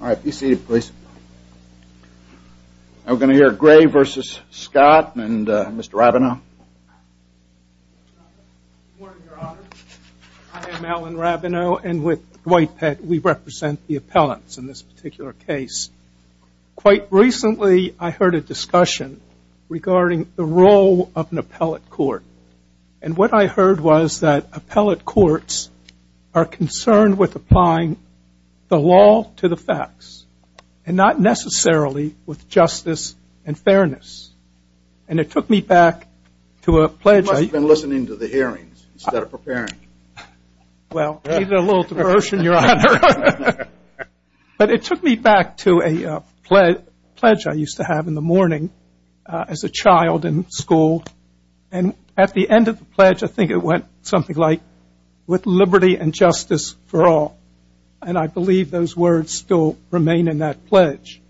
I am Alan Rabinow and with Dwight Peck we represent the appellants in this particular case. Quite recently I heard a discussion regarding the role of an appellate court and what I and not necessarily with justice and fairness. It took me back to a pledge I used to have in the morning as a child in school, and at the end of the pledge I think it went something like with liberty and justice for all. And I believe those words still remain in that pledge.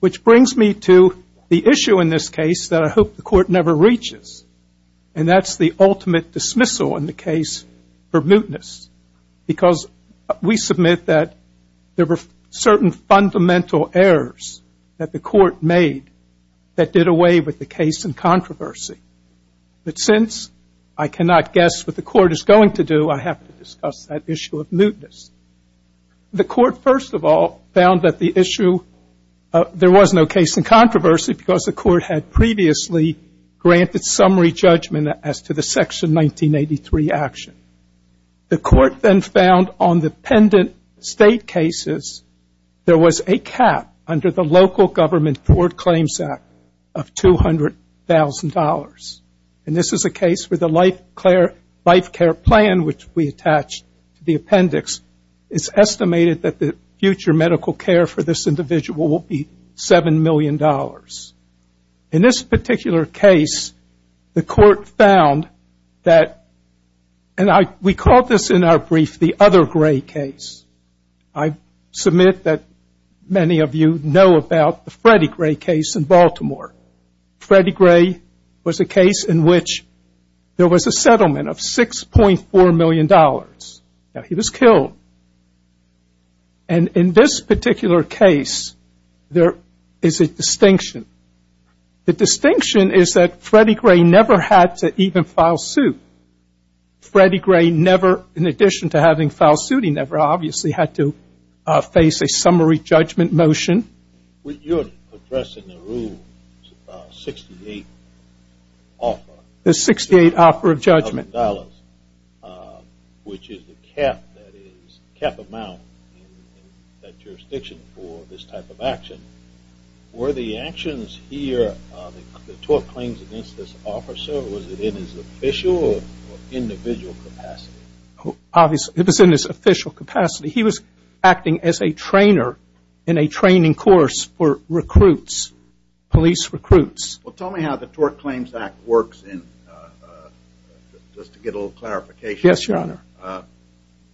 Which brings me to the issue in this case that I hope the court never reaches. And that's the ultimate dismissal in the case for mutinous, because we submit that there were certain fundamental errors that the court made that did away with the case in controversy. But since I cannot guess what the court is going to do, I have to discuss that issue of mutinous. The court, first of all, found that the issue, there was no case in controversy because the court had previously granted summary judgment as to the Section 1983 action. The court then found on the pendant state cases, there was a cap under the Local Government Court Claims Act of $200,000. And this is a case where the life care plan, which we attached to the appendix, is estimated that the future medical care for this individual will be $7 million. In this particular case, the court found that, and we called this in our brief, the other gray case. I submit that many of you know about the Freddie Gray case in Baltimore. Freddie Gray was a case in which there was a settlement of $6.4 million. Now, he was killed. And in this particular case, there is a distinction. The distinction is that Freddie Gray never had to even file suit. Freddie Gray never, in addition to having filed suit, he never obviously had to face a summary judgment motion. You're addressing the Rule 68 offer. The 68 offer of judgment. Of dollars, which is the cap amount in that jurisdiction for this type of action. Were the actions here, the tort claims against this officer, was it in his official or individual capacity? Obviously, it was in his official capacity. He was acting as a trainer in a training course for recruits, police recruits. Well, tell me how the Tort Claims Act works, just to get a little clarification. Yes, Your Honor.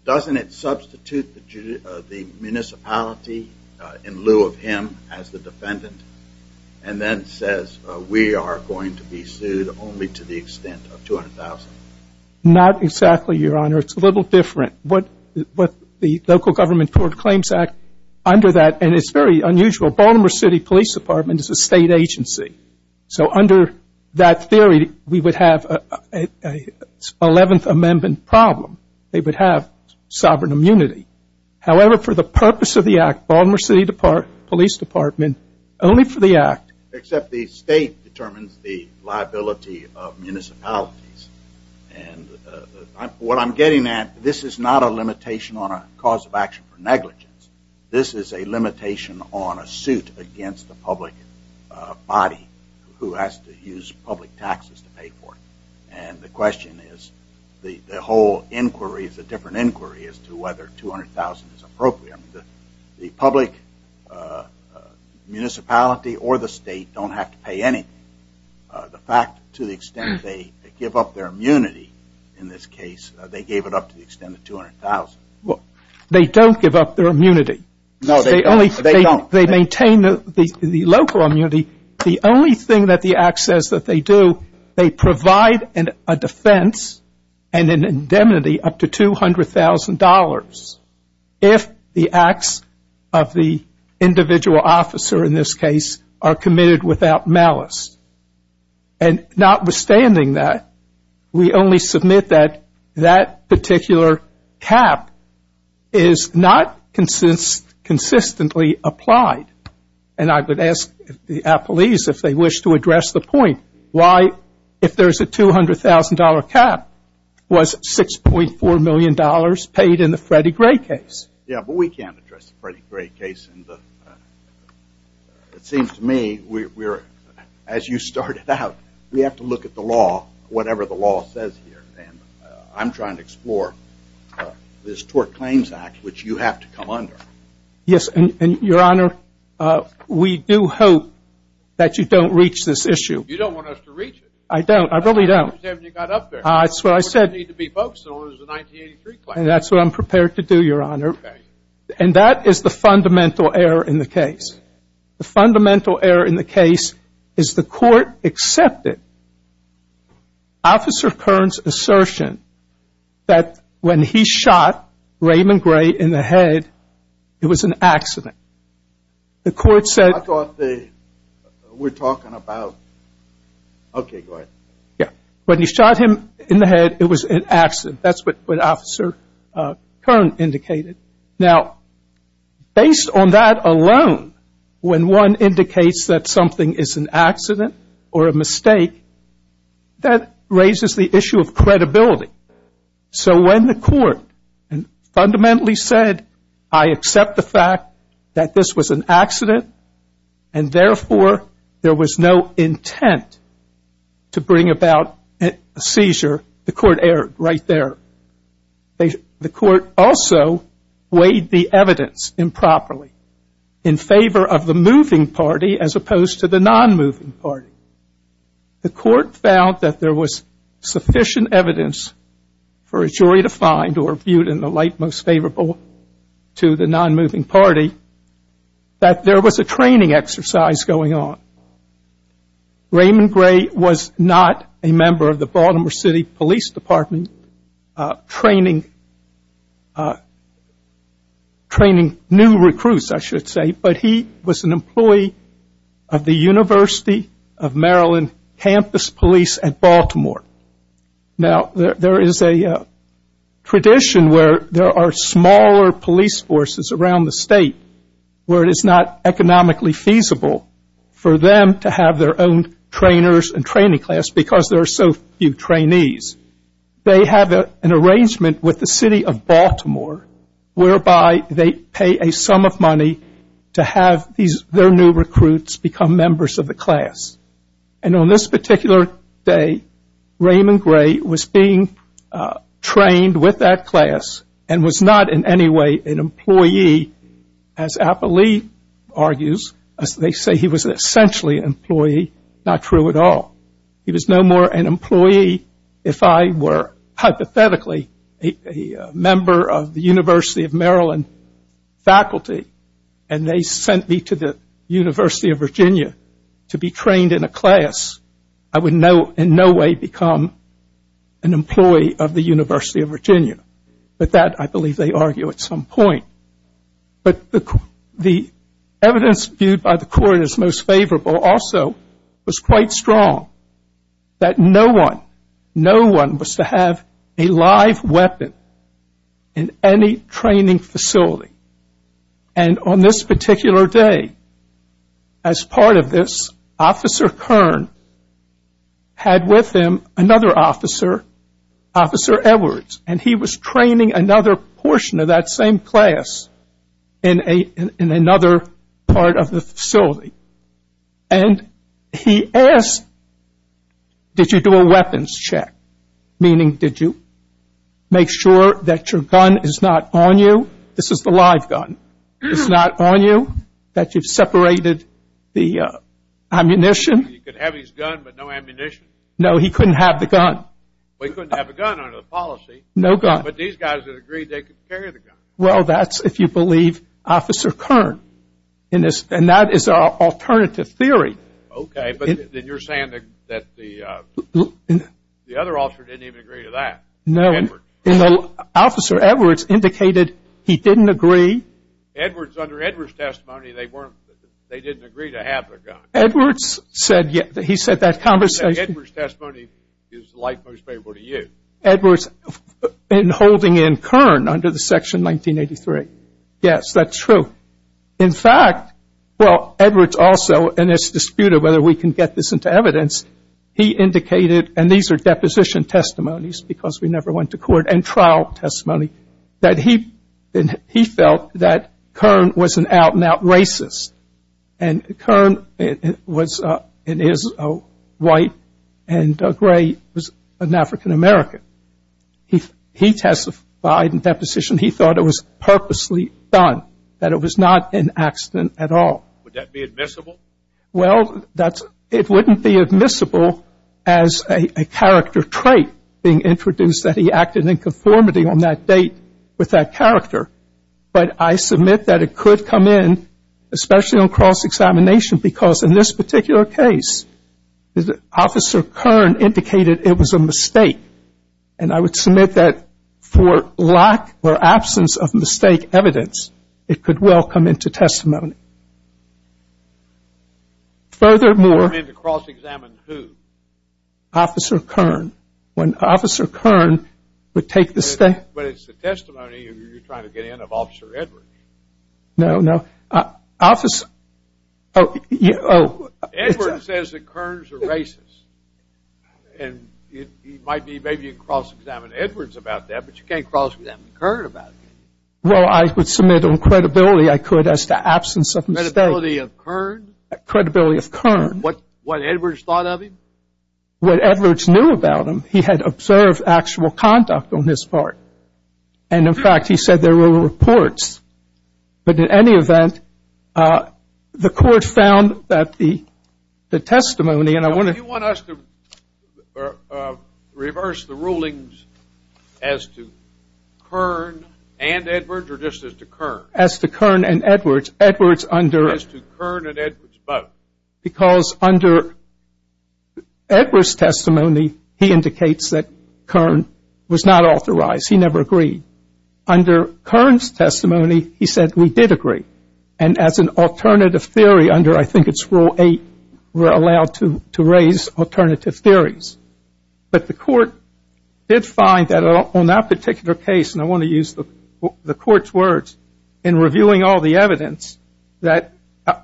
Doesn't it substitute the municipality in lieu of him as the defendant, and then says, we are going to be sued only to the extent of $200,000? Not exactly, Your Honor. It's a little different. But the local government Tort Claims Act, under that, and it's very unusual, Baltimore City Police Department is a state agency. So under that theory, we would have an 11th Amendment problem. They would have sovereign immunity. However, for the purpose of the act, Baltimore City Police Department, only for the act. Except the state determines the liability of municipalities. And what I'm getting at, this is not a limitation on a cause of action for negligence. This is a limitation on a suit against the public body, who has to use public taxes to pay for it. And the question is, the whole inquiry is a different inquiry as to whether $200,000 is appropriate. The public municipality or the state don't have to pay anything. The fact, to the extent they give up their immunity in this case, they gave it up to the extent of $200,000. They don't give up their immunity. No, they don't. They maintain the local immunity. The only thing that the act says that they do, they provide a defense and an indemnity up to $200,000 if the acts of the individual officer, in this case, are committed without malice. And notwithstanding that, we only submit that that particular cap is not consistently applied. And I would ask the police if they wish to address the point. Why, if there's a $200,000 cap, was $6.4 million paid in the Freddie Gray case? Yeah, but we can't address the Freddie Gray case. And it seems to me, as you started out, we have to look at the law, whatever the law says here. And I'm trying to explore this Tort Claims Act, which you have to come under. Yes, and Your Honor, we do hope that you don't reach this issue. You don't want us to reach it? I don't. I really don't. That's what you said when you got up there. That's what I said. You don't need to be focused on what is the 1983 claim. And that's what I'm prepared to do, Your Honor. And that is the fundamental error in the case. The fundamental error in the case is the court accepted Officer Kern's assertion that when he shot Raymond Gray in the head, it was an accident. The court said- I thought they were talking about, OK, go ahead. Yeah, when he shot him in the head, it was an accident. That's what Officer Kern indicated. Now, based on that alone, when one indicates that something is an accident or a mistake, that raises the issue of credibility. So when the court fundamentally said, I accept the fact that this was an accident, and therefore there was no intent to bring about a seizure, the court erred right there. The court also weighed the evidence improperly in favor of the moving party as opposed to the non-moving party. The court found that there was sufficient evidence for a jury to find, or viewed in the light most favorable to the non-moving party, that there was a training exercise going on. Raymond Gray was not a member of the Baltimore City Police Department training new recruits, I should say. But he was an employee of the University of Maryland Campus Police at Baltimore. Now, there is a tradition where there are smaller police forces around the state where it is not economically feasible for them to have their own trainers and training class because there are so few trainees. They have an arrangement with the city of Baltimore whereby they pay a sum of money to have their new recruits become members of the class. And on this particular day, Raymond Gray was being trained with that class and was not in any way an employee, as Applee argues, they say he was essentially an employee, not true at all. He was no more an employee if I were, hypothetically, a member of the University of Maryland faculty and they sent me to the University of Virginia to be trained in a class. I would in no way become an employee of the University of Virginia. But that, I believe, they argue at some point. But the evidence viewed by the court as most favorable also was quite strong that no one, no one was to have a live weapon in any training facility. And on this particular day, as part of this, Officer Kern had with him another officer, Officer Edwards. And he was training another portion of that same class in another part of the facility. And he asked, did you do a weapons check? Meaning, did you make sure that your gun is not on you? This is the live gun. It's not on you, that you've separated the ammunition? He could have his gun, but no ammunition. No, he couldn't have the gun. Well, he couldn't have a gun under the policy. No gun. But these guys had agreed they could carry the gun. Well, that's, if you believe, Officer Kern. And that is our alternative theory. OK, but then you're saying that the other officer didn't even agree to that. No. Officer Edwards indicated he didn't agree. Edwards, under Edwards' testimony, they didn't agree to have the gun. Edwards said, yeah, he said that conversation. Edwards' testimony is like most people to you. Edwards, in holding in Kern under the section 1983. Yes, that's true. In fact, well, Edwards also, and it's disputed whether we can get this into evidence, he indicated, and these are deposition testimonies, because we never went to court, and trial testimony, that he felt that Kern was an out-and-out racist. And Kern was, in his white and gray, was an African-American. He testified in deposition he thought it was purposely done, that it was not an accident at all. Would that be admissible? Well, it wouldn't be admissible as a character trait being introduced, that he acted in conformity on that date with that character. But I submit that it could come in, especially on cross-examination, because in this particular case, Officer Kern indicated it was a mistake. And I would submit that for lack or absence of mistake evidence, it could well come into testimony. Furthermore. Come in to cross-examine who? Officer Kern. When Officer Kern would take the stand. But it's the testimony you're trying to get in of Officer Edwards. No, no. Officer, oh, yeah, oh. Edwards says that Kern's a racist. And it might be maybe you can cross-examine Edwards about that, but you can't cross-examine Kern about it. Well, I would submit on credibility, I could, as to absence of mistake. Credibility of Kern? Credibility of Kern. What Edwards thought of him? What Edwards knew about him. He had observed actual conduct on his part. And in fact, he said there were reports. But in any event, the court found that the testimony, and I want to. Do you want us to reverse the rulings as to Kern and Edwards, or just as to Kern? As to Kern and Edwards. Edwards under. As to Kern and Edwards both. Because under Edwards' testimony, he indicates that Kern was not authorized. He never agreed. Under Kern's testimony, he said we did agree. And as an alternative theory under, I think it's rule eight, we're allowed to raise alternative theories. But the court did find that on that particular case, and I want to use the court's words, in reviewing all the evidence, that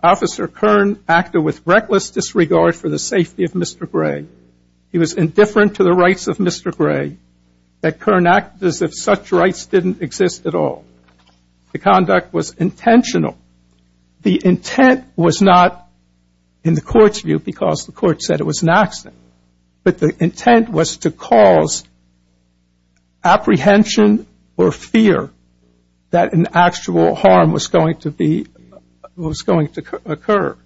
Officer Kern acted with reckless disregard for the safety of Mr. Gray. He was indifferent to the rights of Mr. Gray. That Kern acted as if such rights didn't exist at all. The conduct was intentional. The intent was not, in the court's view, because the court said it was an accident. But the intent was to cause apprehension or fear that an actual harm was going to occur.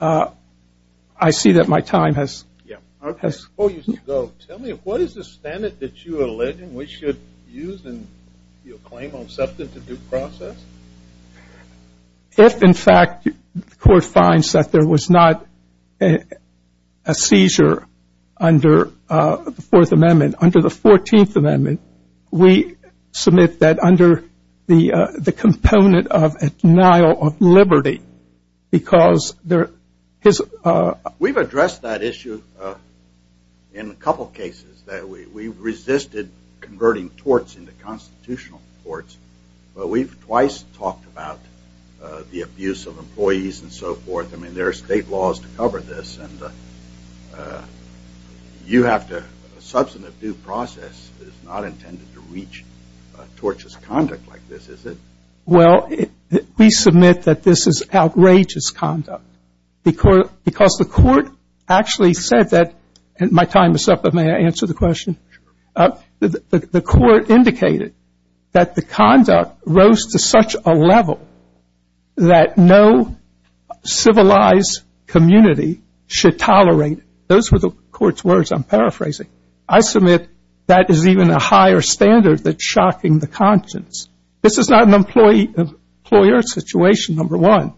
I see that my time has. Yeah. I suppose you should go. Tell me, what is the standard that you allege and we should use in your claim on something to due process? If, in fact, the court finds that there was not a seizure under the Fourth Amendment, under the 14th Amendment, we submit that under the component of a denial of liberty because there is a- We've addressed that issue in a couple of cases, that we resisted converting torts into constitutional courts. But we've twice talked about the abuse of employees and so forth. I mean, there are state laws to cover this. And a substantive due process is not intended to reach tortious conduct like this, is it? Well, we submit that this is outrageous conduct because the court actually said that, and my time is up, but may I answer the question? That no civilized community should tolerate, those were the court's words, I'm paraphrasing. I submit that is even a higher standard that's shocking the conscience. This is not an employee-employer situation, number one.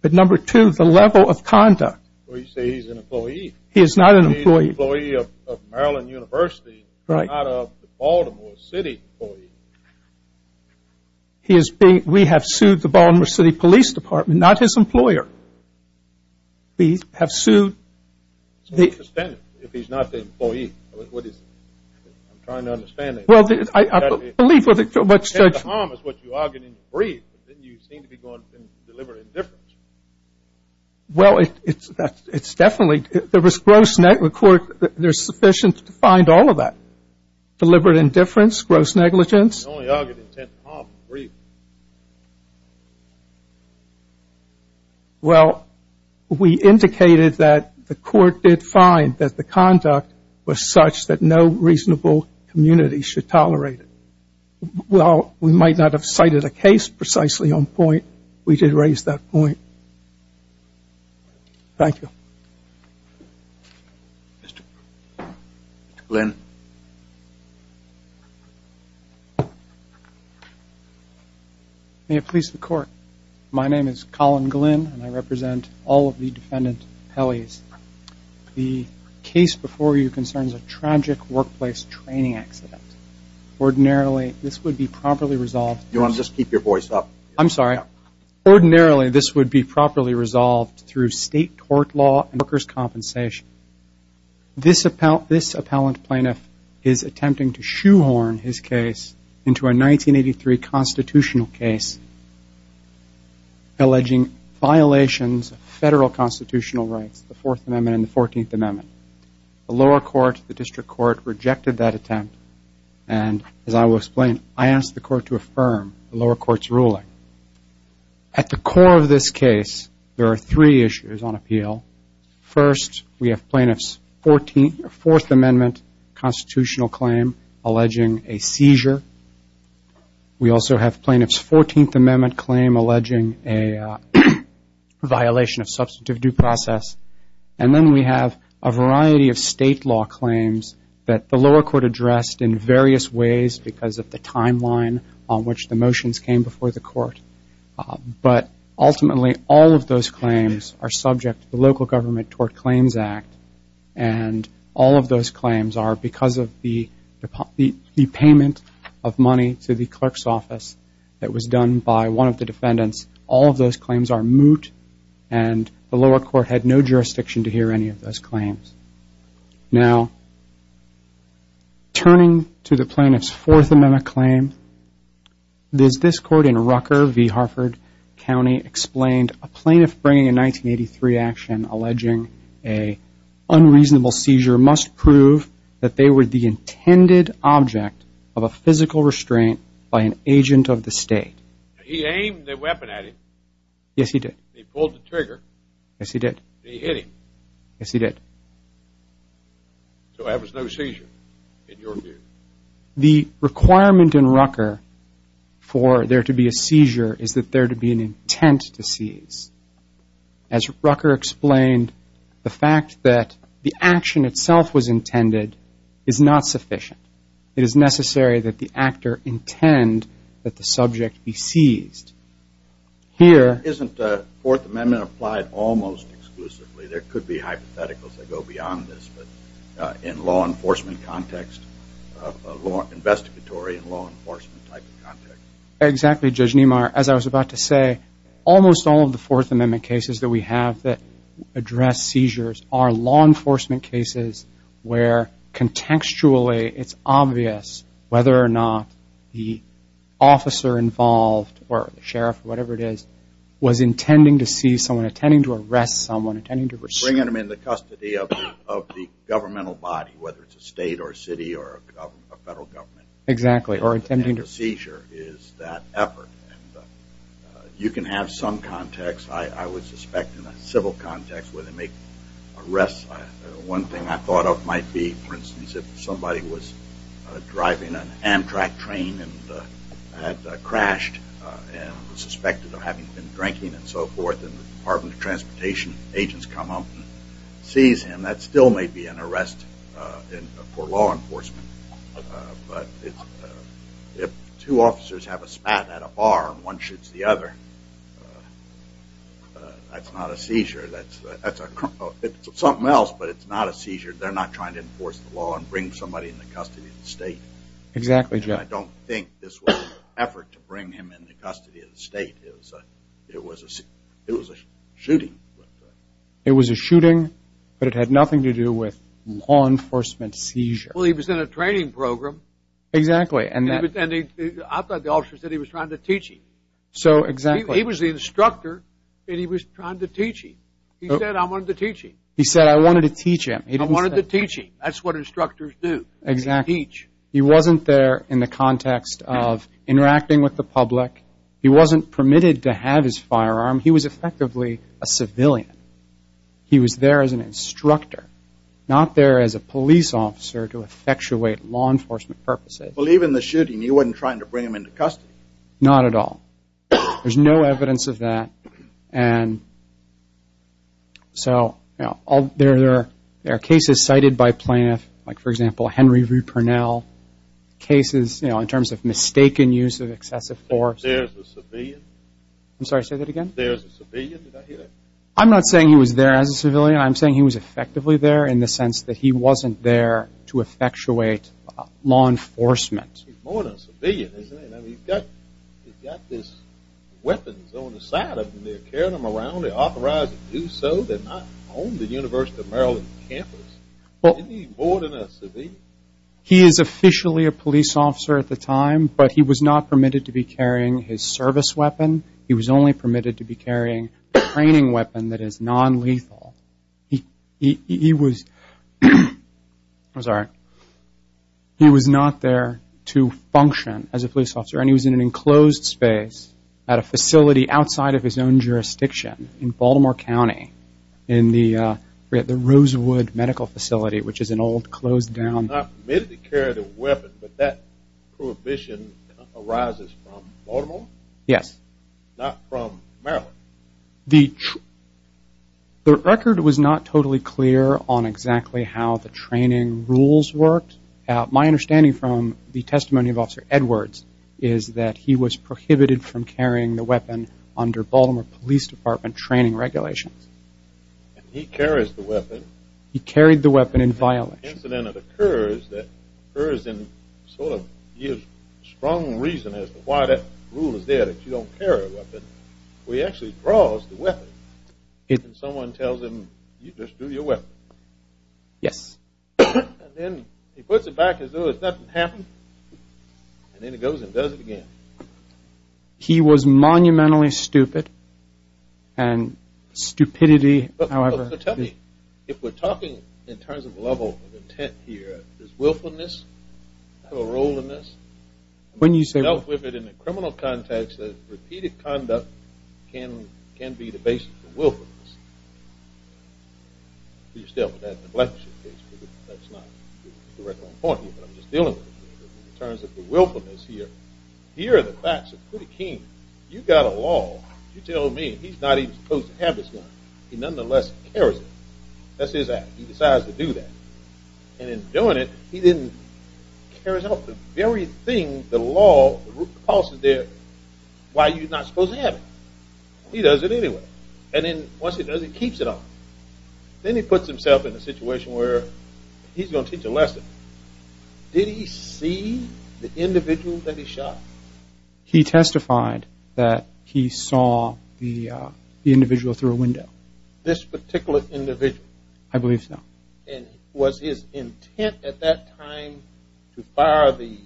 But number two, the level of conduct. Well, you say he's an employee. He is not an employee. He's an employee of Maryland University, not a Baltimore City employee. He is being, we have sued the Baltimore City Police Department, not his employer. We have sued the- So what's the standard if he's not an employee? What is it? I'm trying to understand it. Well, I believe what the judge- You said the harm is what you argued in the brief. Didn't you seem to be going to deliver indifference? Well, it's definitely, there was gross negligence, there's sufficient to find all of that. Deliberate indifference, gross negligence? I only argued intent to harm in the brief. Well, we indicated that the court did find that the conduct was such that no reasonable community should tolerate it. While we might not have cited a case precisely on point, we did raise that point. Thank you. Mr. Glenn. May it please the court. My name is Colin Glenn, and I represent all of the defendant appellees. The case before you concerns a tragic workplace training accident. Ordinarily, this would be properly resolved- You want to just keep your voice up? I'm sorry. resolved through state tort law and workers' compensation. This appellant plaintiff is attempting to shoehorn his case into a 1983 constitutional case alleging violations of federal constitutional rights, the Fourth Amendment and the Fourteenth Amendment. The lower court, the district court, rejected that attempt. And as I will explain, I asked the court to affirm the lower court's ruling. At the core of this case, there are three issues on appeal. First, we have plaintiff's Fourth Amendment constitutional claim alleging a seizure. We also have plaintiff's Fourteenth Amendment claim alleging a violation of substantive due process. And then we have a variety of state law claims that the lower court addressed in various ways because of the timeline on which the motions came before the court. But ultimately, all of those claims are subject to the Local Government Tort Claims Act. And all of those claims are because of the payment of money to the clerk's office that was done by one of the defendants. All of those claims are moot. And the lower court had no jurisdiction to hear any of those claims. Now, turning to the plaintiff's Fourth Amendment claim, there's this court in Rucker v. Harford County explained a plaintiff bringing a 1983 action alleging a unreasonable seizure must prove that they were the intended object of a physical restraint by an agent of the state. He aimed the weapon at him. Yes, he did. He pulled the trigger. Yes, he did. And he hit him. Yes, he did. So that was no seizure in your view. The requirement in Rucker for there to be a seizure is that there to be an intent to seize. As Rucker explained, the fact that the action itself was intended is not sufficient. It is necessary that the actor intend that the subject be seized. Here, isn't the Fourth Amendment applied almost exclusively? There could be hypotheticals that go beyond this. But in law enforcement context, investigatory in law enforcement type of context. Exactly, Judge Niemeyer. As I was about to say, almost all of the Fourth Amendment cases that we have that address seizures are law enforcement cases where contextually it's obvious whether or not the officer involved, or the sheriff, or whatever it is, was intending to seize someone, intending to arrest someone, intending to receive. Bringing them in the custody of the governmental body, whether it's a state, or a city, or a federal government. Exactly. Seizure is that effort. You can have some context. I would suspect in a civil context where they make arrests, one thing I thought of might be, for instance, if somebody was driving an Amtrak train and had crashed, and was suspected of having been drinking, and so forth. And the Department of Transportation agents come up and seize him. That still may be an arrest for law enforcement. But if two officers have a spat at a bar, and one shoots the other, that's not a seizure. That's something else, but it's not a seizure. They're not trying to enforce the law and bring somebody in the custody of the state. Exactly, Jeff. And I don't think this was an effort to bring him in the custody of the state. It was a shooting. It was a shooting, but it had nothing to do with law enforcement seizure. Well, he was in a training program. Exactly. And I thought the officer said he was trying to teach him. So, exactly. He was the instructor, and he was trying to teach him. He said, I wanted to teach him. He said, I wanted to teach him. He didn't say, I wanted to teach him. That's what instructors do, teach. He wasn't there in the context of interacting with the public. He wasn't permitted to have his firearm. He was effectively a civilian. He was there as an instructor, not there as a police officer to effectuate law enforcement purposes. Well, even the shooting, you weren't trying to bring him into custody. Not at all. There's no evidence of that. And so, there are cases cited by plaintiffs, like, for example, Henry V. Purnell. Cases in terms of mistaken use of excessive force. There's a civilian? I'm sorry, say that again? There's a civilian? Did I hear that? I'm not saying he was there as a civilian. I'm saying he was effectively there in the sense that he wasn't there to effectuate law enforcement. He's more than a civilian, isn't he? I mean, he's got these weapons on the side of him. They're carrying him around. They authorize him to do so. They're not on the University of Maryland campus. Isn't he more than a civilian? He is officially a police officer at the time, but he was not permitted to be carrying his service weapon. He was only permitted to be carrying a training weapon that is non-lethal. He was not there to function as a police officer, and he was in an enclosed space at a facility outside of his own jurisdiction in Baltimore County in the Rosewood Medical Facility, which is an old, closed down. Not permitted to carry the weapon, but that prohibition arises from Baltimore? Yes. Not from Maryland? The record was not totally clear on exactly how the training rules worked. My understanding from the testimony of Officer Edwards is that he was prohibited from carrying the weapon under Baltimore Police Department training regulations. He carries the weapon. He carried the weapon in violation. Incident occurs that occurs in sort of strong reason as to why that rule is there that you don't carry a weapon. He actually draws the weapon, and someone tells him, you just do your weapon. Yes. And then he puts it back as though nothing happened, and then he goes and does it again. He was monumentally stupid, and stupidity, however. If we're talking in terms of level of intent here, does willfulness have a role in this? When you say willfulness, in the criminal context, repeated conduct can be the basis of willfulness. You still have that in the black suit case, but that's not the record I'm pointing to, but I'm just dealing with it in terms of the willfulness here. Here, the facts are pretty keen. You've got a law. You tell me he's not even supposed to have this gun. He nonetheless carries it. That's his act. He decides to do that. And in doing it, he then carries out the very thing that the law proposes there, why you're not supposed to have it. He does it anyway. And then once he does it, he keeps it on. Then he puts himself in a situation where he's going to teach a lesson. Did he see the individual that he shot? He testified that he saw the individual through a window. This particular individual? I believe so. Was his intent at that time to fire the,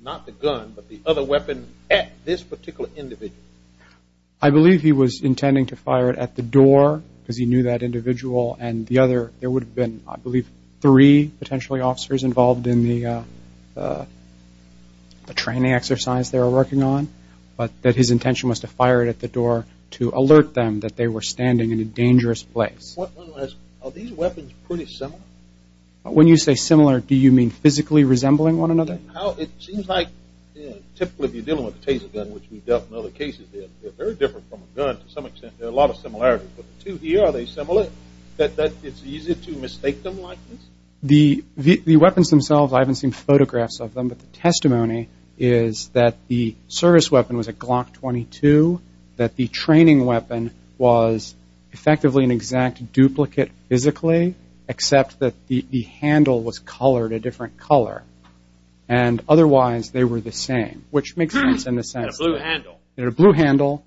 not the gun, but the other weapon at this particular individual? I believe he was intending to fire it at the door, because he knew that individual. And the other, there would have been, I believe, three potentially officers involved in the training exercise they were working on. But that his intention was to fire it at the door to alert them that they were standing in a dangerous place. Are these weapons pretty similar? When you say similar, do you mean physically resembling one another? It seems like, typically, if you're dealing with a Taser gun, which we've dealt with in other cases, they're very different from a gun to some extent. There are a lot of similarities. But the two here, are they similar? That it's easier to mistake them like this? The weapons themselves, I haven't seen photographs of them. But the testimony is that the service weapon was a Glock 22, that the training weapon was effectively an exact duplicate physically, except that the handle was colored a different color. And otherwise, they were the same, which makes sense in a sense. In a blue handle. In a blue handle,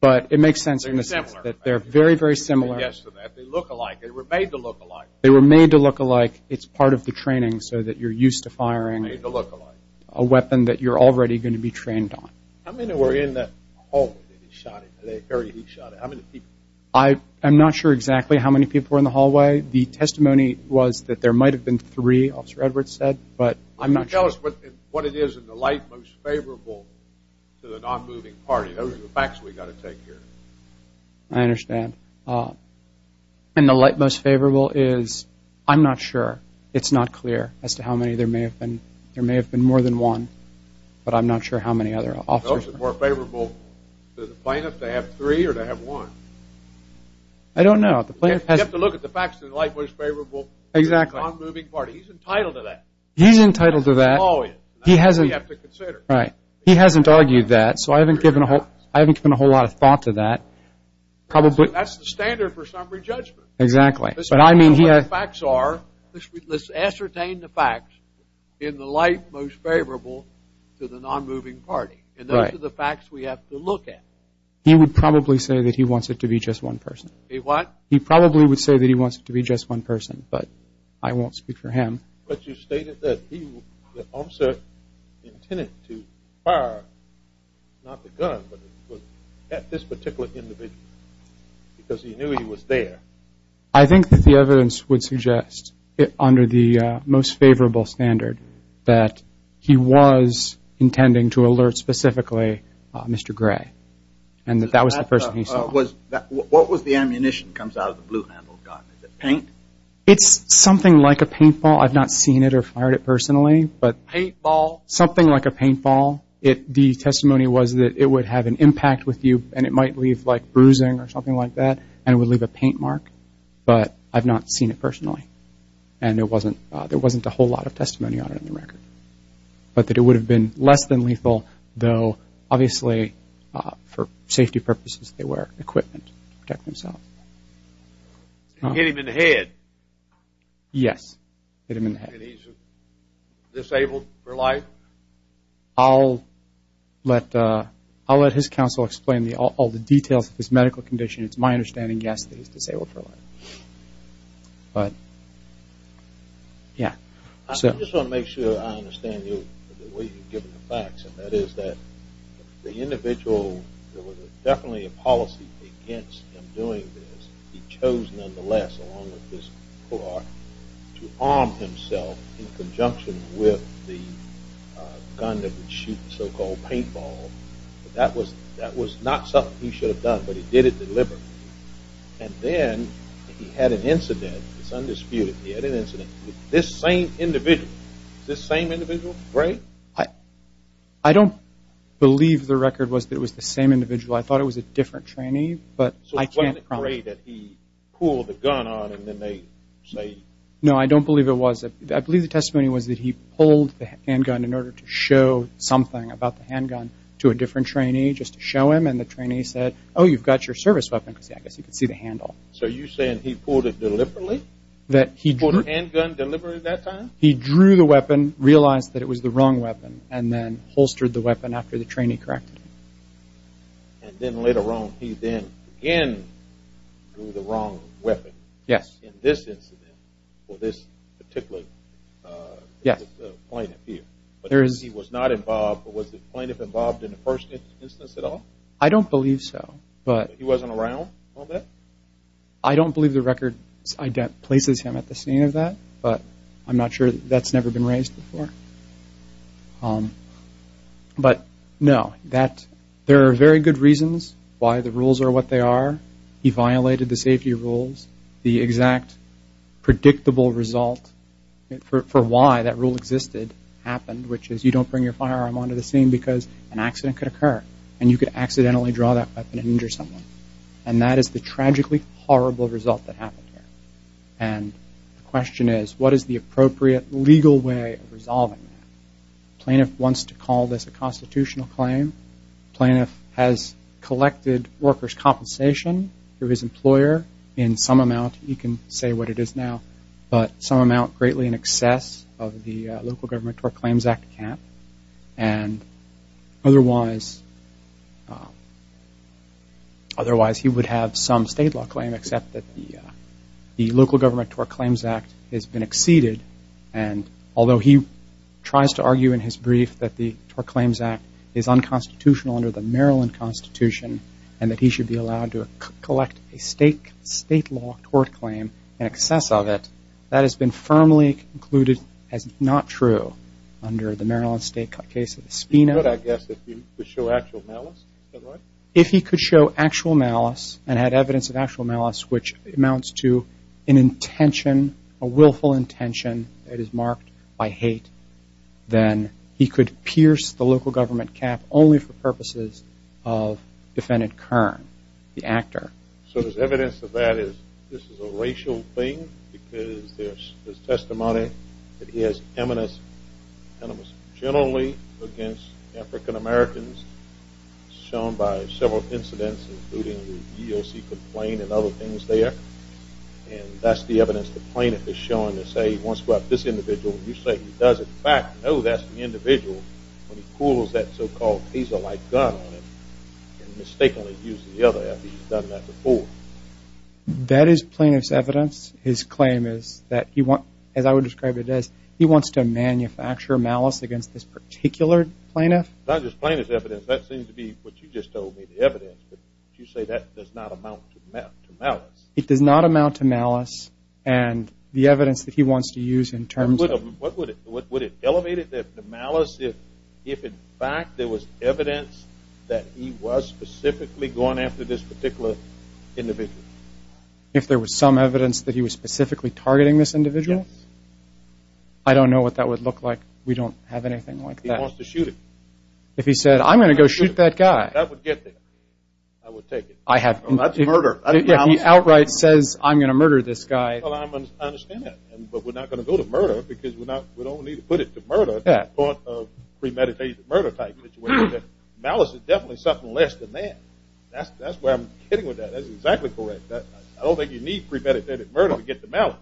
but it makes sense in a sense that they're very, very similar. Yes, they look alike. They were made to look alike. They were made to look alike. It's part of the training so that you're used to firing a weapon that you're already going to be trained on. How many were in the hallway that he shot at? The area he shot at? How many people? I am not sure exactly how many people were in the hallway. The testimony was that there might have been three, Officer Edwards said. But I'm not sure. Can you tell us what it is in the light most favorable to the non-moving party? Those are the facts we've got to take here. I understand. And the light most favorable is, I'm not sure. It's not clear as to how many. There may have been more than one. But I'm not sure how many other officers. Those are more favorable to the plaintiff to have three or to have one. I don't know. The plaintiff has to look at the facts in the light most favorable to the non-moving party. He's entitled to that. He's entitled to that. He hasn't argued that. So I haven't given a whole lot of thought to that. That's the standard for summary judgment. Exactly. But I mean he has facts are, let's ascertain the facts in the light most favorable to the non-moving party. And those are the facts we have to look at. He would probably say that he wants it to be just one person. He what? He probably would say that he wants it to be just one person. But I won't speak for him. But you stated that he, the officer, intended to fire, not the gun, but at this particular individual because he knew he was there. I think that the evidence would suggest under the most favorable standard that he was intending to alert specifically Mr. Gray. And that was the person he saw. What was the ammunition that comes out of the blue-handled gun? Is it paint? It's something like a paintball. I've not seen it or fired it personally. But something like a paintball, the testimony was that it would have an impact with you. And it might leave bruising or something like that. And it would leave a paint mark. But I've not seen it personally. And there wasn't a whole lot of testimony on it on the record. But that it would have been less than lethal, though obviously for safety purposes they wear equipment to protect themselves. And hit him in the head? Yes. Hit him in the head. And he's disabled for life? I'll let his counsel explain all the details of his medical condition. It's my understanding, yes, that he's disabled for life. But yeah. I just want to make sure I understand you the way you've given the facts. And that is that the individual, there was definitely a policy against him doing this. He chose nonetheless, along with his clerk, to arm himself in conjunction with the gun that would shoot the so-called paintball. That was not something he should have done. But he did it deliberately. And then he had an incident. It's undisputed. He had an incident with this same individual. This same individual, Gray? I don't believe the record was that it was the same individual. I thought it was a different trainee. But I can't promise. So it wasn't Gray that he pulled the gun on and then they say? No, I don't believe it was. I believe the testimony was that he pulled the handgun in order to show something about the handgun to a different trainee just to show him. And the trainee said, oh, you've got your service weapon. I guess he could see the handle. So you're saying he pulled it deliberately? That he drew the handgun deliberately that time? He drew the weapon, realized that it was the wrong weapon, and then holstered the weapon after the trainee corrected him. And then later on, he then again drew the wrong weapon. Yes. In this incident, for this particular plaintiff here. But he was not involved, but was the plaintiff involved in the first instance at all? I don't believe so. But he wasn't around a little bit? I don't believe the record places him at the scene of that. But I'm not sure that's never been raised before. But no, there are very good reasons why the rules are what they are. He violated the safety rules. The exact predictable result for why that rule existed happened, which is you don't bring your firearm onto the scene because an accident could occur. And you could accidentally draw that weapon and injure someone. And that is the tragically horrible result that happened here. And the question is, what is the appropriate legal way of resolving that? Plaintiff wants to call this a constitutional claim. Plaintiff has collected workers' compensation through his employer in some amount. He can say what it is now. But some amount greatly in excess of the Local Government or Claims Act cap. And otherwise, he would have some state law claim, except that the Local Government Tort Claims Act has been exceeded. And although he tries to argue in his brief that the Tort Claims Act is unconstitutional under the Maryland Constitution and that he should be allowed to collect a state law tort claim in excess of it, that has been firmly concluded as not true under the Maryland State case of Espino. He could, I guess, if he could show actual malice. Is that right? If he could show actual malice and had evidence of actual malice, which amounts to an intention, a willful intention that is marked by hate, then he could pierce the Local Government cap only for purposes of defendant Kern, the actor. So there's evidence of that is this is a racial thing because there's testimony that he has eminence generally against African-Americans shown by several incidents, including the EEOC complaint and other things there. And that's the evidence the plaintiff is showing to say, once you have this individual, you say he does, in fact, know that's the individual when he pulls that so-called taser like gun on him and mistakenly used the other after he's done that before. That is plaintiff's evidence. His claim is that he wants, as I would describe it as, he wants to manufacture malice against this particular plaintiff. Not just plaintiff's evidence. That seems to be what you just told me, the evidence. But you say that does not amount to malice. It does not amount to malice. And the evidence that he wants to use in terms of What would it? Would it elevate the malice if, in fact, there was evidence that he was specifically going after this particular individual? If there was some evidence that he was specifically targeting this individual? I don't know what that would look like. We don't have anything like that. He wants to shoot him. If he said, I'm going to go shoot that guy. That would get there. I would take it. I have. Well, that's murder. If he outright says, I'm going to murder this guy. Well, I understand that. But we're not going to go to murder, because we don't need to put it to murder. That's part of premeditated murder type situation. Malice is definitely something less than that. That's where I'm getting with that. That's exactly correct. I don't think you need premeditated murder to get the malice.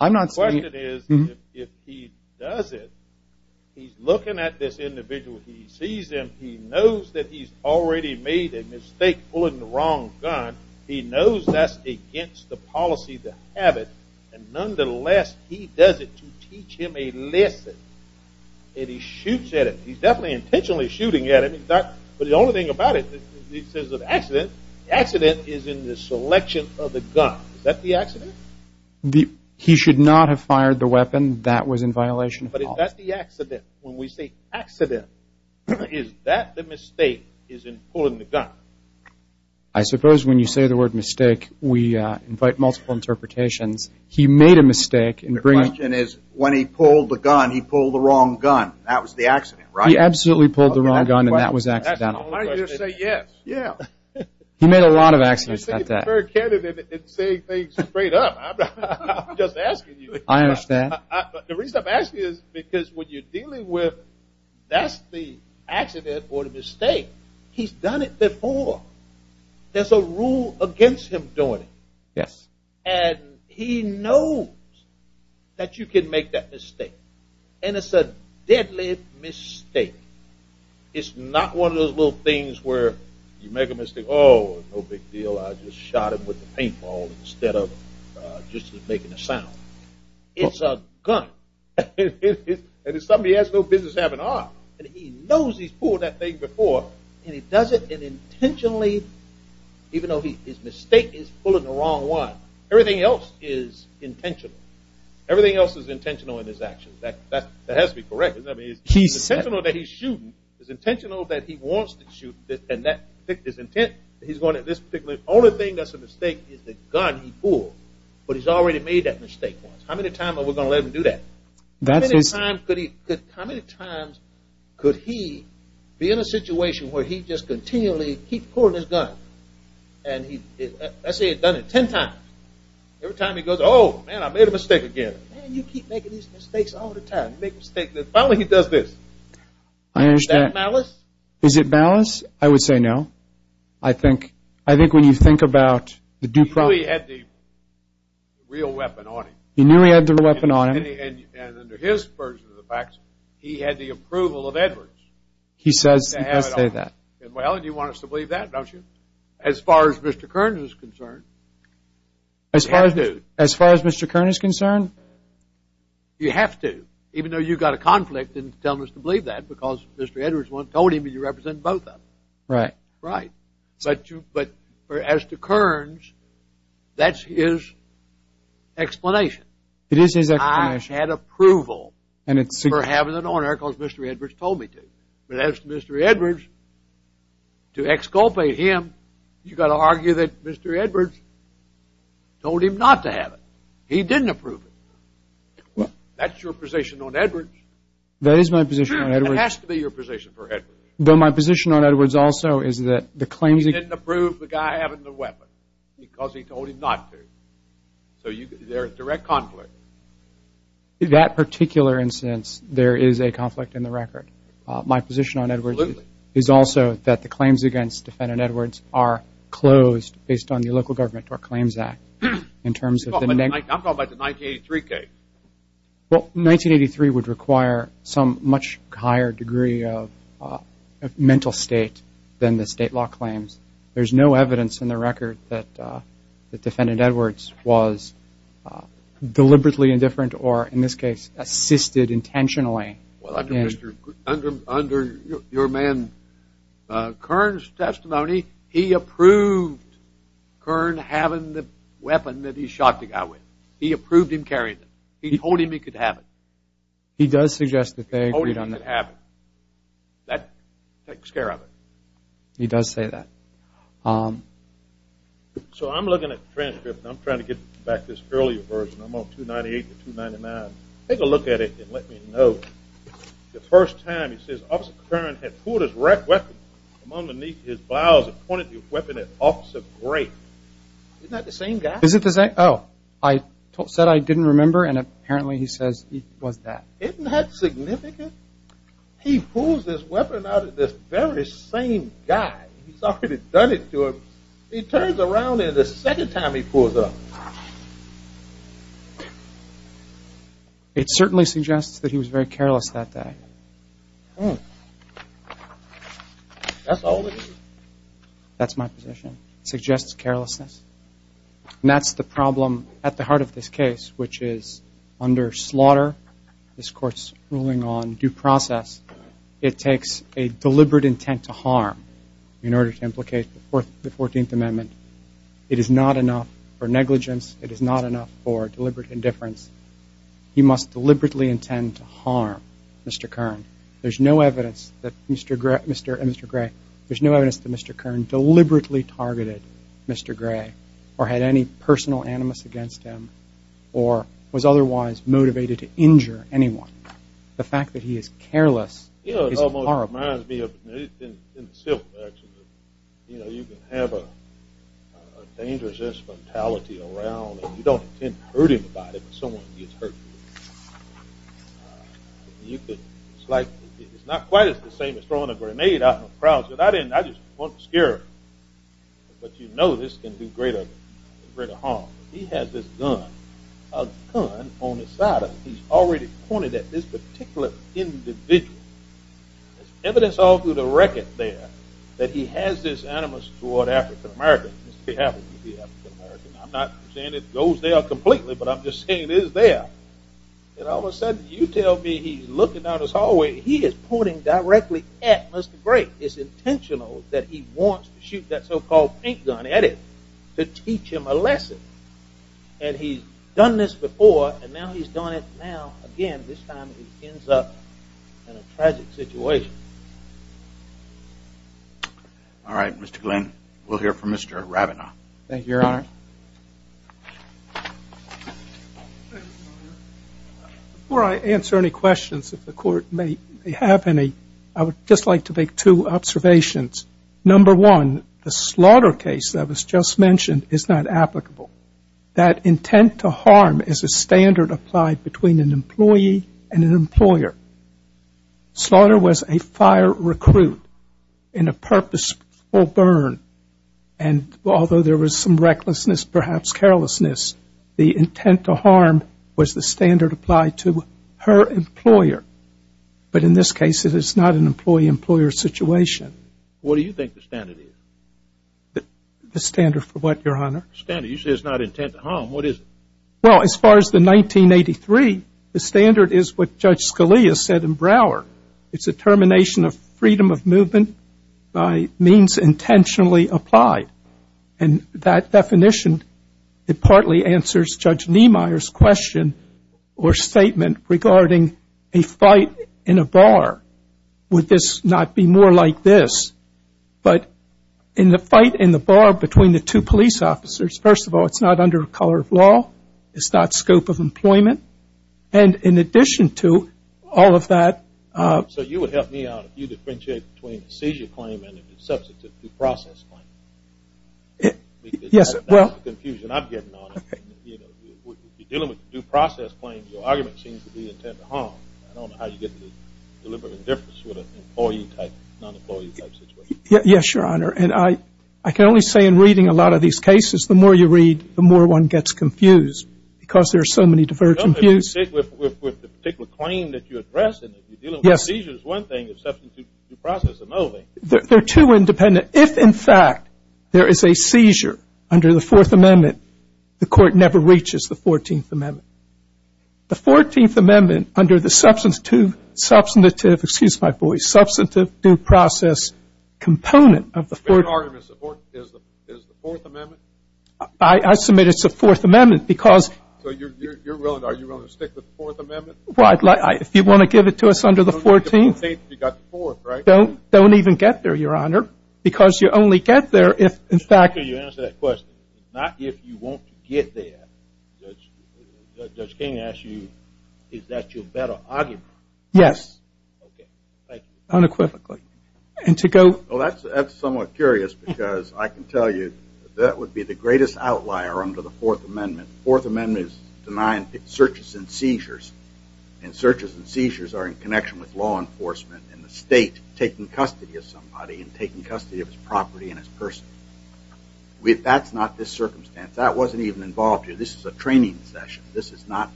I'm not saying that. The question is, if he does it, he's looking at this individual. He sees him. He knows that he's already made a mistake pulling the wrong gun. He knows that's against the policy to have it. And nonetheless, he does it to teach him a lesson. And he shoots at it. He's definitely intentionally shooting at it. But the only thing about it, he says it's an accident. The accident is in the selection of the gun. Is that the accident? He should not have fired the weapon. That was in violation of the law. But is that the accident? When we say accident, is that the mistake is in pulling the gun? I suppose when you say the word mistake, we invite multiple interpretations. He made a mistake in bringing it. The question is, when he pulled the gun, he pulled the wrong gun. That was the accident, right? He absolutely pulled the wrong gun. And that was accidental. Why don't you just say yes? He made a lot of accidents like that. You're taking it very candidly and saying things straight up. I'm just asking you. I understand. The reason I'm asking you is because when you're dealing with that's the accident or the mistake, he's done it before. There's a rule against him doing it. And he knows that you can make that mistake. And it's a deadly mistake. It's not one of those little things where you make a mistake, oh, no big deal. I just shot him with a paintball instead of just making a sound. It's a gun. And it's something he has no business having on. And he knows he's pulled that thing before. And he does it intentionally, even though his mistake is pulling the wrong one. Everything else is intentional. Everything else is intentional in his actions. That has to be correct. It's intentional that he's shooting. It's intentional that he wants to shoot. And his intent, he's going at this particular, only thing that's a mistake is the gun he pulled. But he's already made that mistake once. How many times are we going to let him do that? How many times could he be in a situation where he just continually keeps pulling his gun? And I say he's done it 10 times. Every time he goes, oh, man, I made a mistake again. Man, you keep making these mistakes all the time. Finally, he does this. Is that malice? Is it malice? I would say no. I think when you think about the due process. He knew he had the real weapon on him. He knew he had the weapon on him. And under his version of the facts, he had the approval of Edwards. He says he has to say that. Well, you want us to believe that, don't you? As far as Mr. Kern is concerned, you have to. As far as Mr. Kern is concerned? You have to. Even though you've got a conflict in telling us to believe that, because Mr. Edwards told him that you represent both of them. Right. Right. But as to Kerns, that's his explanation. It is his explanation. I had approval for having it on there, because Mr. Edwards told me to. But as to Mr. Edwards, to exculpate him, you've got to argue that Mr. Edwards told him not to have it. He didn't approve it. Well, that's your position on Edwards. That is my position on Edwards. It has to be your position for Edwards. Though my position on Edwards also is that the claims he He didn't approve the guy having the weapon, because he told him not to. So there is direct conflict. In that particular instance, there is a conflict in the record. My position on Edwards is also that the claims against defendant Edwards are closed based on the Local Government Court Claims Act, in terms of the negative. I'm talking about the 1983 case. Well, 1983 would require some much higher degree of mental state than the state law claims. There's no evidence in the record that defendant Edwards was deliberately indifferent, or in this case, assisted intentionally. Well, under your man Kerns' testimony, he approved Kern having the weapon that he shot the guy with. He approved him carrying it. He told him he could have it. He does suggest that they agreed on that. He told him he could have it. That takes care of it. He does say that. So I'm looking at the transcript. I'm trying to get back this earlier version. I'm on 298 to 299. Take a look at it and let me know. The first time, he says, Officer Kern had pulled his weapon from underneath his blouse and pointed the weapon at Officer Gray. Isn't that the same guy? Oh, I said I didn't remember. And apparently, he says it was that. Isn't that significant? He pulls his weapon out at this very same guy. He's already done it to him. He turns around, and the second time, he pulls up. It certainly suggests that he was very careless that day. That's all it is. That's my position. Suggests carelessness. And that's the problem at the heart of this case, which is under slaughter, this court's ruling on due process, it takes a deliberate intent to harm in order to implicate the 14th Amendment. It is not enough for negligence. It is not enough for deliberate indifference. He must deliberately intend to harm Mr. Kern. There's no evidence that Mr. Gray There's no evidence that Mr. Kern deliberately targeted Mr. Gray, or had any personal animus against him, or was otherwise motivated to injure anyone. The fact that he is careless is horrible. It almost reminds me of in the civil action, you know, you can have a dangerous infantality around, and you don't intend to hurt anybody, but someone gets hurt. You could, it's like, it's not quite as the same as throwing a grenade out in a crowd, but I didn't, I just wanted to scare him. But you know this can do greater harm. He has this gun, a gun on his side of him. He's already pointed at this particular individual. Evidence all through the record there that he has this animus toward African-Americans. He happens to be African-American. I'm not saying it goes there completely, but I'm just saying it is there. And all of a sudden, you tell me he's looking down his hallway, he is pointing directly at Mr. Grape. It's intentional that he wants to shoot that so-called paint gun at him to teach him a lesson. And he's done this before, and now he's done it now again. This time, he ends up in a tragic situation. All right, Mr. Glenn. We'll hear from Mr. Rabinow. Thank you, Your Honor. Thank you, Your Honor. Before I answer any questions, if the court may have any, I would just like to make two observations. Number one, the slaughter case that was just mentioned is not applicable. That intent to harm is a standard applied between an employee and an employer. Slaughter was a fire recruit in a purposeful burn. And although there was some recklessness, perhaps carelessness, the intent to harm was the standard applied to her employer. But in this case, it is not an employee-employer situation. What do you think the standard is? The standard for what, Your Honor? The standard, you said it's not intent to harm. What is it? Well, as far as the 1983, the standard is what Judge Scalia said in Brower. It's a termination of freedom of movement by means intentionally applied. And that definition, it partly answers Judge Niemeyer's question or statement regarding a fight in a bar. Would this not be more like this? But in the fight in the bar between the two police officers, first of all, it's not under the color of law. It's not scope of employment. And in addition to all of that, So you would help me out if you differentiate between a seizure claim and a deceptive due process claim? Yes, well. That's the confusion I'm getting on it. When you're dealing with due process claims, your argument seems to be intent to harm. I don't know how you get the deliberate indifference with an employee-type, non-employee-type situation. Yes, Your Honor. And I can only say in reading a lot of these cases, the more you read, the more one gets confused, because there are so many divergent views. With the particular claim that you're addressing, if you're dealing with seizures, one thing is the deceptive due process, and the other thing. They're too independent. If, in fact, there is a seizure under the Fourth Amendment, the court never reaches the Fourteenth Amendment. The Fourteenth Amendment, under the substantive due process component of the Fourteenth Amendment, I submit it's the Fourth Amendment, because. So are you willing to stick with the Fourth Amendment? If you want to give it to us under the Fourteenth. You've got the Fourth, right? Don't even get there, Your Honor, because you only get there if, in fact. After you answer that question, not if you want to get there. Judge King asked you, is that your better argument? Yes. Unequivocally. And to go. Well, that's somewhat curious, because I can tell you that would be the greatest outlier under the Fourth Amendment. The Fourth Amendment is denying searches and seizures. And searches and seizures are in connection with law enforcement and the state taking custody of somebody and taking custody of his property and his person. That's not this circumstance. That wasn't even involved here. This is a training session. This is not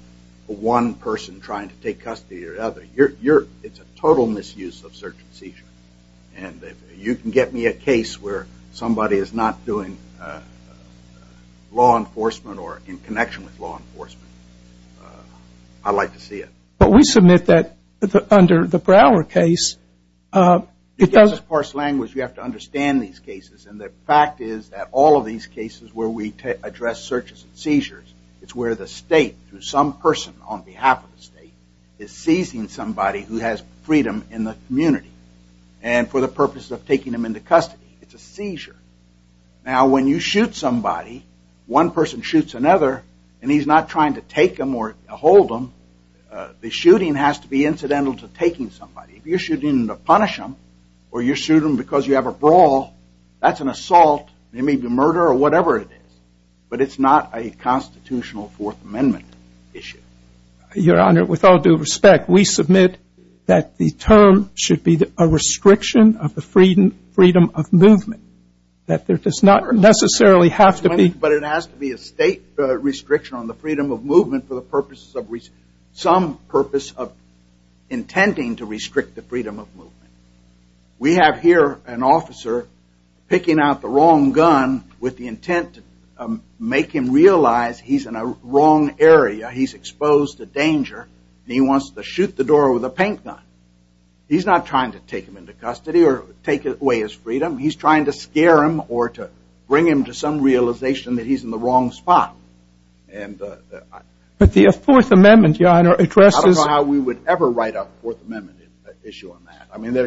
one person trying to take custody of the other. It's a total misuse of search and seizure. And you can get me a case where somebody is not doing law enforcement or in connection with law enforcement. I'd like to see it. But we submit that under the Brower case, it does. Because it's parsed language, you have to understand these cases. And the fact is that all of these cases where we address searches and seizures, it's where the state, through some person on behalf of the state, is seizing somebody who has freedom in the community. And for the purpose of taking them into custody, it's a seizure. Now, when you shoot somebody, one person shoots another, and he's not trying to take them or hold them. The shooting has to be incidental to taking somebody. If you're shooting to punish them, or you shoot them because you have a brawl, that's an assault. It may be murder or whatever it is. But it's not a constitutional Fourth Amendment issue. Your Honor, with all due respect, we submit that the term should be a restriction of the freedom of movement. That there does not necessarily have to be. But it has to be a state restriction on the freedom of movement for the purposes of some purpose of intending to restrict the freedom of movement. We have here an officer picking out the wrong gun with the intent to make him realize he's in a wrong area. He's exposed to danger, and he wants to shoot the door with a paint gun. He's not trying to take him into custody or take away his freedom. He's trying to scare him or to bring him to some realization that he's in the wrong spot. But the Fourth Amendment, Your Honor, addresses. I don't know how we would ever write out the Fourth Amendment issue on that. I mean,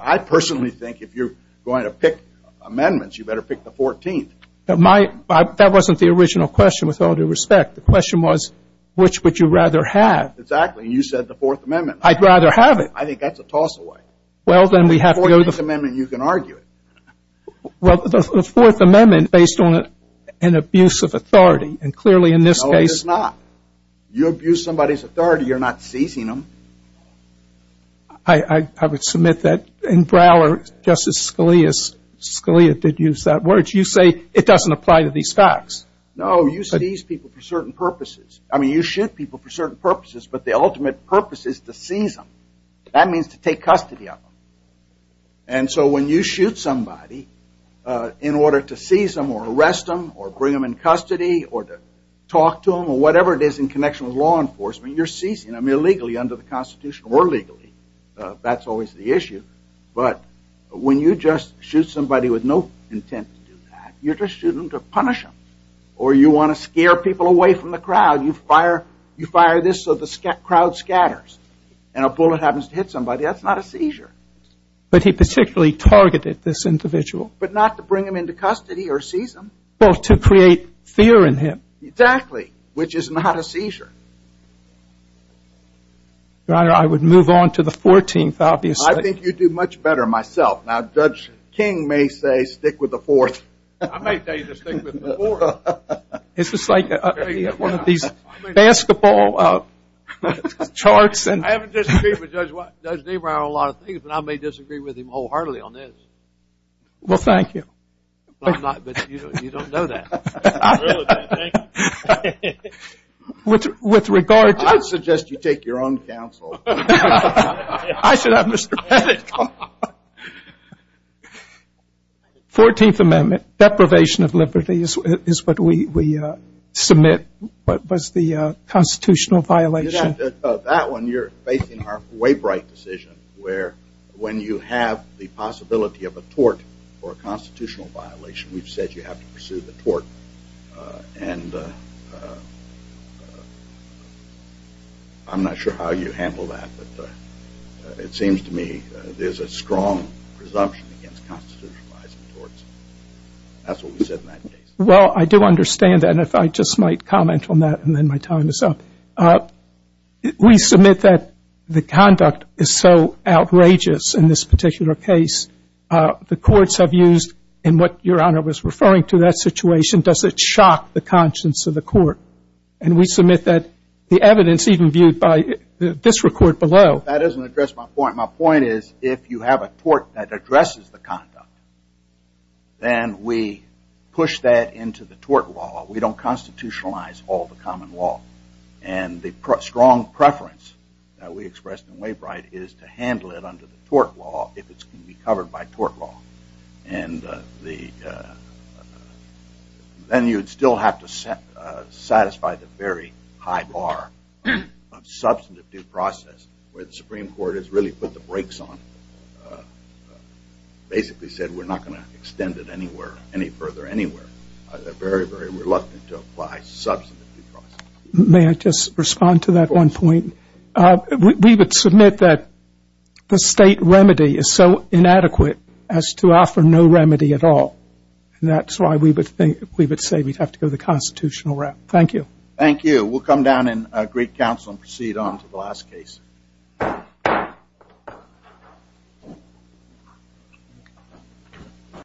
I personally think if you're going to pick amendments, you better pick the 14th. That wasn't the original question, with all due respect. The question was, which would you rather have? Exactly, you said the Fourth Amendment. I'd rather have it. I think that's a toss away. Well, then we have to go to the Fourth Amendment, and you can argue it. Well, the Fourth Amendment, based on an abuse of authority, and clearly in this case. No, it is not. You abuse somebody's authority, you're not seizing them. I would submit that in Broward, Justice Scalia did use that word. You say it doesn't apply to these facts. No, you seize people for certain purposes. I mean, you shoot people for certain purposes, but the ultimate purpose is to seize them. That means to take custody of them. And so when you shoot somebody in order to seize them, or arrest them, or bring them in custody, or to talk to them, or whatever it is in connection with law enforcement, you're seizing them, illegally under the Constitution, or legally. That's always the issue. But when you just shoot somebody with no intent to do that, you're just shooting them to punish them. Or you want to scare people away from the crowd, you fire this so the crowd scatters. And a bullet happens to hit somebody, that's not a seizure. But he particularly targeted this individual. But not to bring him into custody or seize him. Well, to create fear in him. Exactly. Which is not a seizure. Your Honor, I would move on to the 14th, obviously. I think you'd do much better myself. Now, Judge King may say, stick with the fourth. I might tell you to stick with the fourth. It's just like one of these basketball charts. I haven't disagreed with Judge Debrow on a lot of things, but I may disagree with him wholeheartedly on this. Well, thank you. But you don't know that. I really don't. Thank you. With regard to that. I'd suggest you take your own counsel. I should have Mr. Pettit come on. 14th Amendment, deprivation of liberty is what we submit. What was the constitutional violation? That one, you're facing our way bright decision, where when you have the possibility of a tort or a constitutional violation, we've said you have to pursue the tort. And I'm not sure how you handle that. But it seems to me there's a strong presumption against constitutionalizing torts. That's what we said in that case. Well, I do understand that. And if I just might comment on that, and then my time is up. We submit that the conduct is so outrageous in this particular case. The courts have used, in what Your Honor was referring to that situation, does it shock the conscience of the court? And we submit that the evidence even viewed by this report below. That doesn't address my point. My point is, if you have a tort that addresses the conduct, then we push that into the tort law. We don't constitutionalize all the common law. And the strong preference that we expressed in way bright is to handle it under the tort law if it's going to be covered by tort law. And then you'd still have to satisfy the very high bar of substantive due process, where the Supreme Court has really put the brakes on. Basically said, we're not going to extend it any further anywhere. They're very, very reluctant to apply substantive due process. May I just respond to that one point? We would submit that the state remedy is so inadequate as to offer no remedy at all. And that's why we would say we'd have to go the constitutional route. Thank you. Thank you. We'll come down in great counsel and proceed on to the last case.